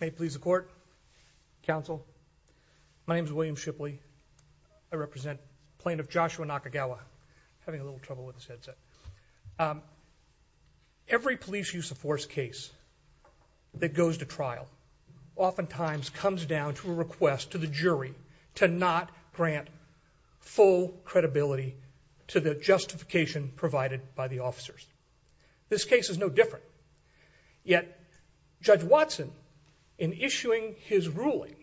May it please the court, counsel. My name is William Shipley. I represent Plaintiff Joshua Nakagawa. I'm having a little trouble with this headset. Every police use of force case that goes to trial oftentimes comes down to a request to the jury to not grant full credibility to the justification provided by the officers. This case is no different. Yet Judge Watson, in issuing his ruling,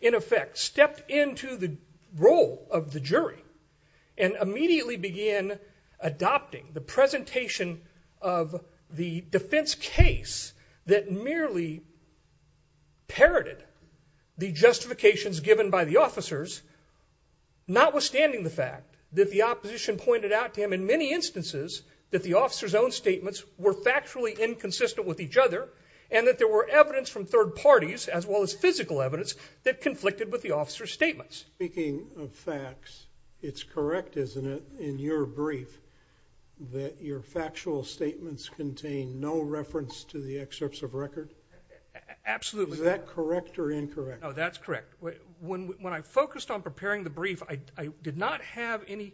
in effect stepped into the role of the jury and immediately began adopting the presentation of the defense case that merely parroted the justifications given by the officers notwithstanding the fact that the opposition pointed out to him in many instances that the officers' own statements were factually inconsistent with each other and that there were evidence from third parties as well as physical evidence that conflicted with the officers' statements. Speaking of facts, it's correct, isn't it, in your brief that your factual statements contain no reference to the excerpts of record? Absolutely. Is that correct or incorrect? No, that's correct. When I focused on preparing the brief, I did not have any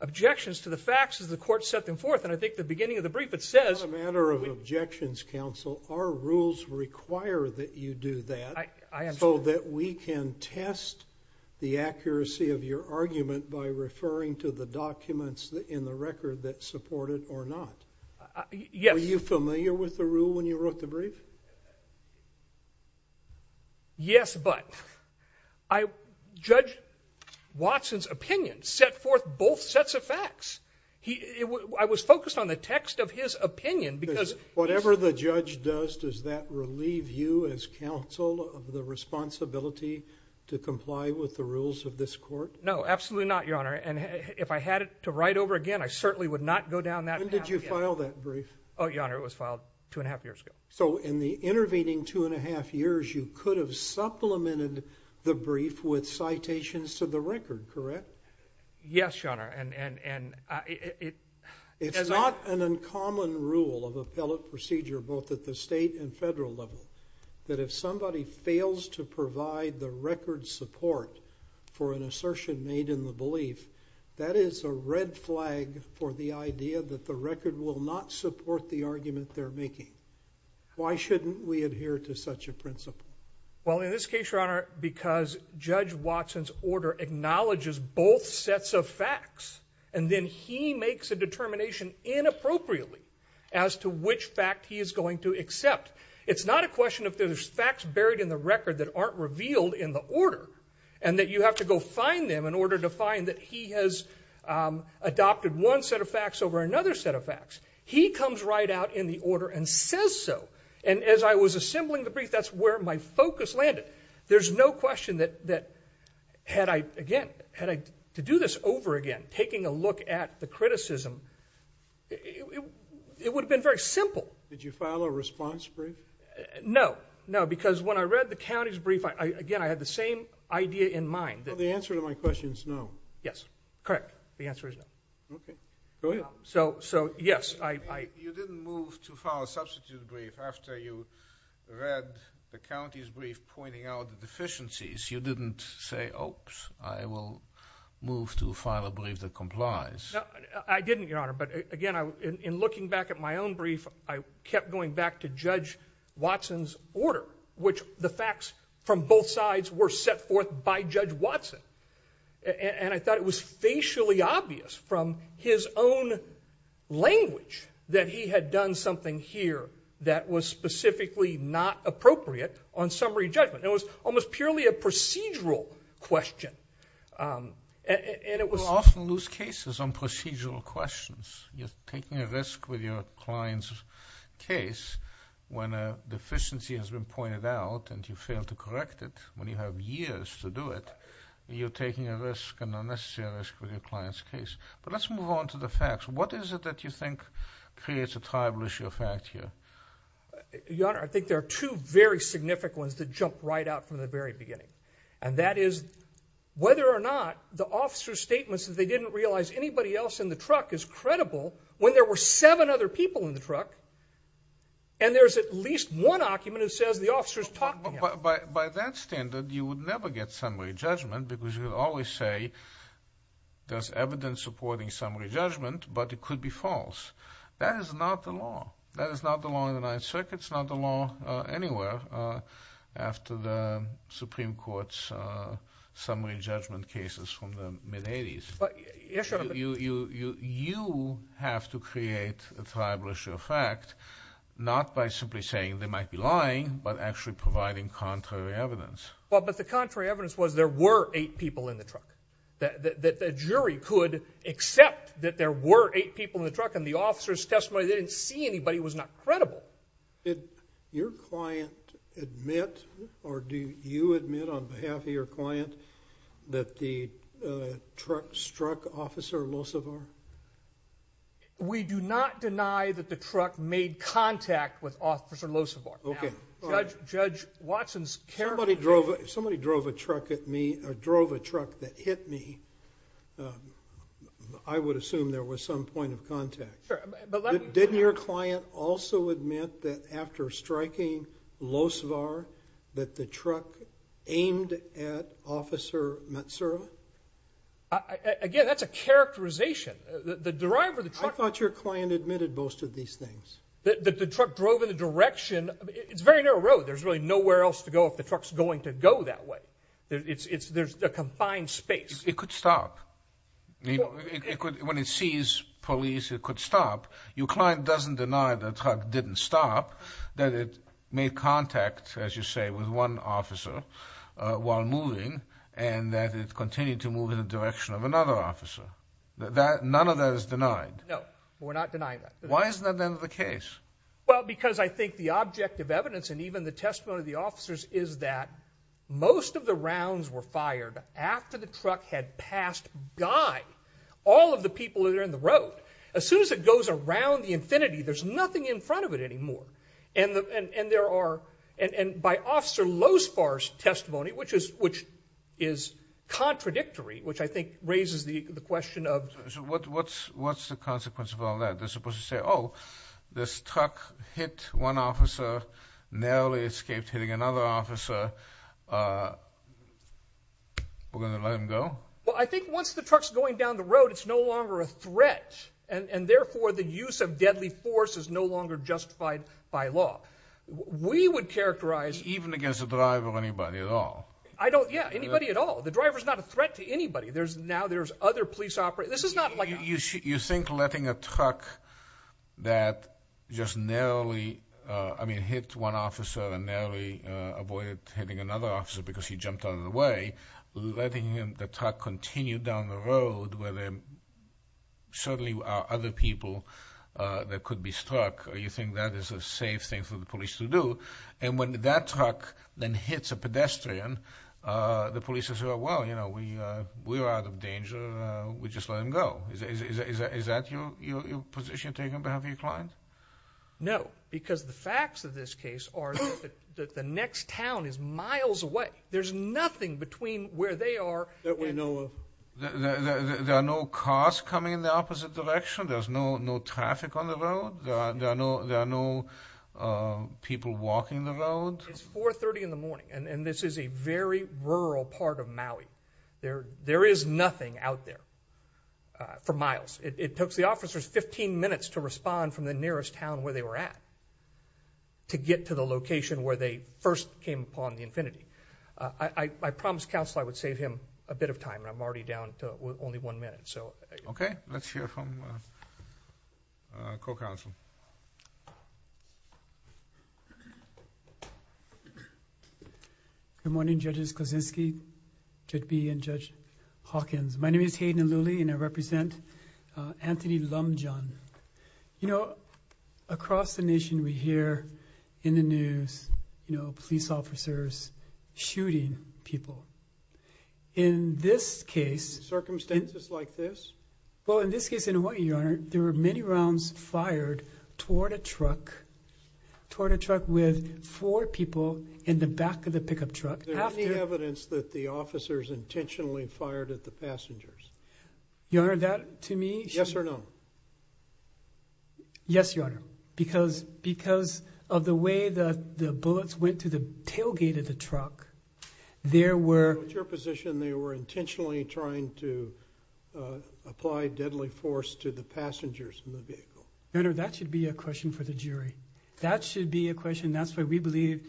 objections to the facts as the court set them forth. And I think at the beginning of the brief it says— It's not a matter of objections, counsel. Our rules require that you do that so that we can test the accuracy of your argument by referring to the documents in the record that support it or not. Yes. Yes, but Judge Watson's opinion set forth both sets of facts. I was focused on the text of his opinion because— Whatever the judge does, does that relieve you as counsel of the responsibility to comply with the rules of this court? No, absolutely not, Your Honor. And if I had to write over again, I certainly would not go down that path again. When did you file that brief? Oh, Your Honor, it was filed two and a half years ago. So in the intervening two and a half years, you could have supplemented the brief with citations to the record, correct? Yes, Your Honor, and it— It's not an uncommon rule of appellate procedure, both at the state and federal level, that if somebody fails to provide the record support for an assertion made in the belief, that is a red flag for the idea that the record will not support the argument they're making. Why shouldn't we adhere to such a principle? Well, in this case, Your Honor, because Judge Watson's order acknowledges both sets of facts, and then he makes a determination inappropriately as to which fact he is going to accept. It's not a question of there's facts buried in the record that aren't revealed in the order, and that you have to go find them in order to find that he has adopted one set of facts over another set of facts. He comes right out in the order and says so. And as I was assembling the brief, that's where my focus landed. There's no question that had I, again, had I to do this over again, taking a look at the criticism, it would have been very simple. Did you file a response brief? No. No, because when I read the county's brief, again, I had the same idea in mind. The answer to my question is no. Yes, correct. The answer is no. Okay. Go ahead. So, yes. You didn't move to file a substitute brief after you read the county's brief pointing out the deficiencies. You didn't say, oops, I will move to file a brief that complies. I didn't, Your Honor, but, again, in looking back at my own brief, I kept going back to Judge Watson's order, which the facts from both sides were set forth by Judge Watson. And I thought it was facially obvious from his own language that he had done something here that was specifically not appropriate on summary judgment. It was almost purely a procedural question. We often lose cases on procedural questions. You're taking a risk with your client's case when a deficiency has been pointed out and you fail to correct it when you have years to do it. You're taking a risk, an unnecessary risk, with your client's case. But let's move on to the facts. What is it that you think creates a tribal issue of fact here? Your Honor, I think there are two very significant ones that jump right out from the very beginning. And that is whether or not the officer's statements that they didn't realize anybody else in the truck is credible when there were seven other people in the truck, and there's at least one argument that says the officer's talking to him. By that standard, you would never get summary judgment because you would always say there's evidence supporting summary judgment, but it could be false. That is not the law. That is not the law in the Ninth Circuit. It's not the law anywhere after the Supreme Court's summary judgment cases from the mid-'80s. You have to create a tribal issue of fact not by simply saying they might be lying but actually providing contrary evidence. Well, but the contrary evidence was there were eight people in the truck, that the jury could accept that there were eight people in the truck, and the officer's testimony they didn't see anybody was not credible. Did your client admit or do you admit on behalf of your client that the truck struck Officer Losevar? We do not deny that the truck made contact with Officer Losevar. Okay. Judge Watson's careful. If somebody drove a truck at me or drove a truck that hit me, I would assume there was some point of contact. Sure. Didn't your client also admit that after striking Losevar that the truck aimed at Officer Matsura? Again, that's a characterization. I thought your client admitted most of these things. The truck drove in the direction. It's a very narrow road. There's really nowhere else to go if the truck's going to go that way. There's a confined space. It could stop. When it sees police, it could stop. Your client doesn't deny the truck didn't stop, that it made contact, as you say, with one officer while moving, and that it continued to move in the direction of another officer. None of that is denied. No, we're not denying that. Why isn't that then the case? Well, because I think the object of evidence and even the testimony of the officers is that most of the rounds were fired after the truck had passed by all of the people that are in the road. As soon as it goes around the infinity, there's nothing in front of it anymore. And by Officer Losevar's testimony, which is contradictory, which I think raises the question of— So what's the consequence of all that? They're supposed to say, oh, this truck hit one officer, narrowly escaped hitting another officer. We're going to let him go? Well, I think once the truck's going down the road, it's no longer a threat, and therefore the use of deadly force is no longer justified by law. We would characterize— Even against a driver or anybody at all? Yeah, anybody at all. The driver's not a threat to anybody. Now there's other police operators. You think letting a truck that just narrowly, I mean, hit one officer and narrowly avoided hitting another officer because he jumped out of the way, letting the truck continue down the road where there certainly are other people that could be struck, you think that is a safe thing for the police to do? And when that truck then hits a pedestrian, the police say, well, you know, we're out of danger. We just let him go. Is that your position taken on behalf of your client? No, because the facts of this case are that the next town is miles away. There's nothing between where they are and— There are no cars coming in the opposite direction? There's no traffic on the road? There are no people walking the road? It's 4.30 in the morning, and this is a very rural part of Maui. There is nothing out there for miles. It took the officers 15 minutes to respond from the nearest town where they were at to get to the location where they first came upon the infinity. I promised counsel I would save him a bit of time, and I'm already down to only one minute. Okay. Let's hear from a co-counsel. Good morning, Judges Kozinski, Judge Bee, and Judge Hawkins. My name is Hayden Aluli, and I represent Anthony Lumjohn. You know, across the nation, we hear in the news, you know, police officers shooting people. In this case— Circumstances like this? Well, in this case, in Hawaii, Your Honor, there were many rounds fired toward a truck, toward a truck with four people in the back of the pickup truck. Is there any evidence that the officers intentionally fired at the passengers? Your Honor, that to me— Yes or no? Yes, Your Honor, because of the way the bullets went to the tailgate of the truck, there were— So it's your position they were intentionally trying to apply deadly force to the passengers in the vehicle? Your Honor, that should be a question for the jury. That should be a question. That's why we believe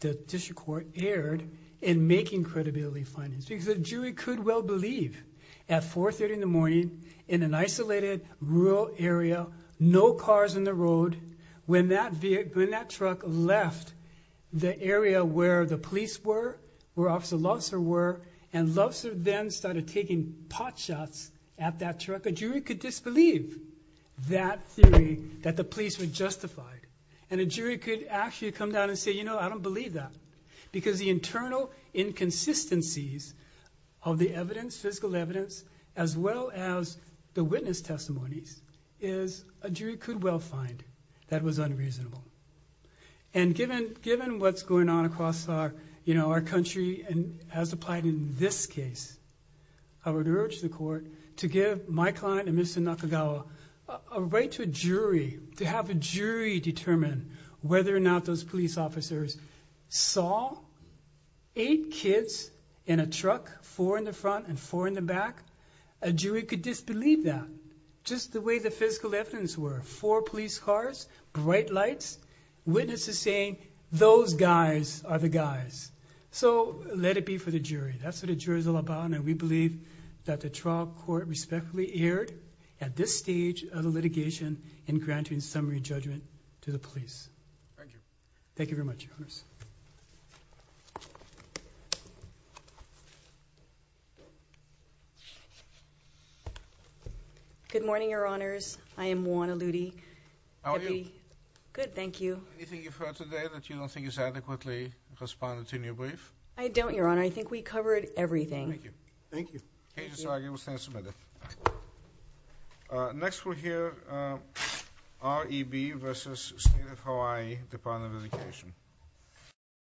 the district court erred in making credibility findings, because a jury could well believe at 430 in the morning in an isolated rural area, no cars in the road, when that truck left the area where the police were, where Officer Loveser were, and Loveser then started taking pot shots at that truck. A jury could disbelieve that theory that the police were justified, and a jury could actually come down and say, you know, I don't believe that, because the internal inconsistencies of the evidence, physical evidence, as well as the witness testimonies, is a jury could well find that was unreasonable. And given what's going on across our country, and as applied in this case, I would urge the court to give my client and Mr. Nakagawa a right to a jury, to have a jury determine whether or not those police officers saw eight kids in a truck, four in the front and four in the back. A jury could disbelieve that, just the way the physical evidence were. Four police cars, bright lights, witnesses saying, those guys are the guys. So let it be for the jury. That's what a jury is all about, and we believe that the trial court respectfully erred at this stage of the litigation in granting summary judgment to the police. Thank you. Thank you very much, Your Honors. Good morning, Your Honors. I am Juan Aludi. How are you? Good, thank you. Is there anything you've heard today that you don't think is adequately correspondent to your brief? I don't, Your Honor. I think we covered everything. Thank you. Thank you. Okay, so I will stand submitted. Next we'll hear REB versus State of Hawaii Department of Education.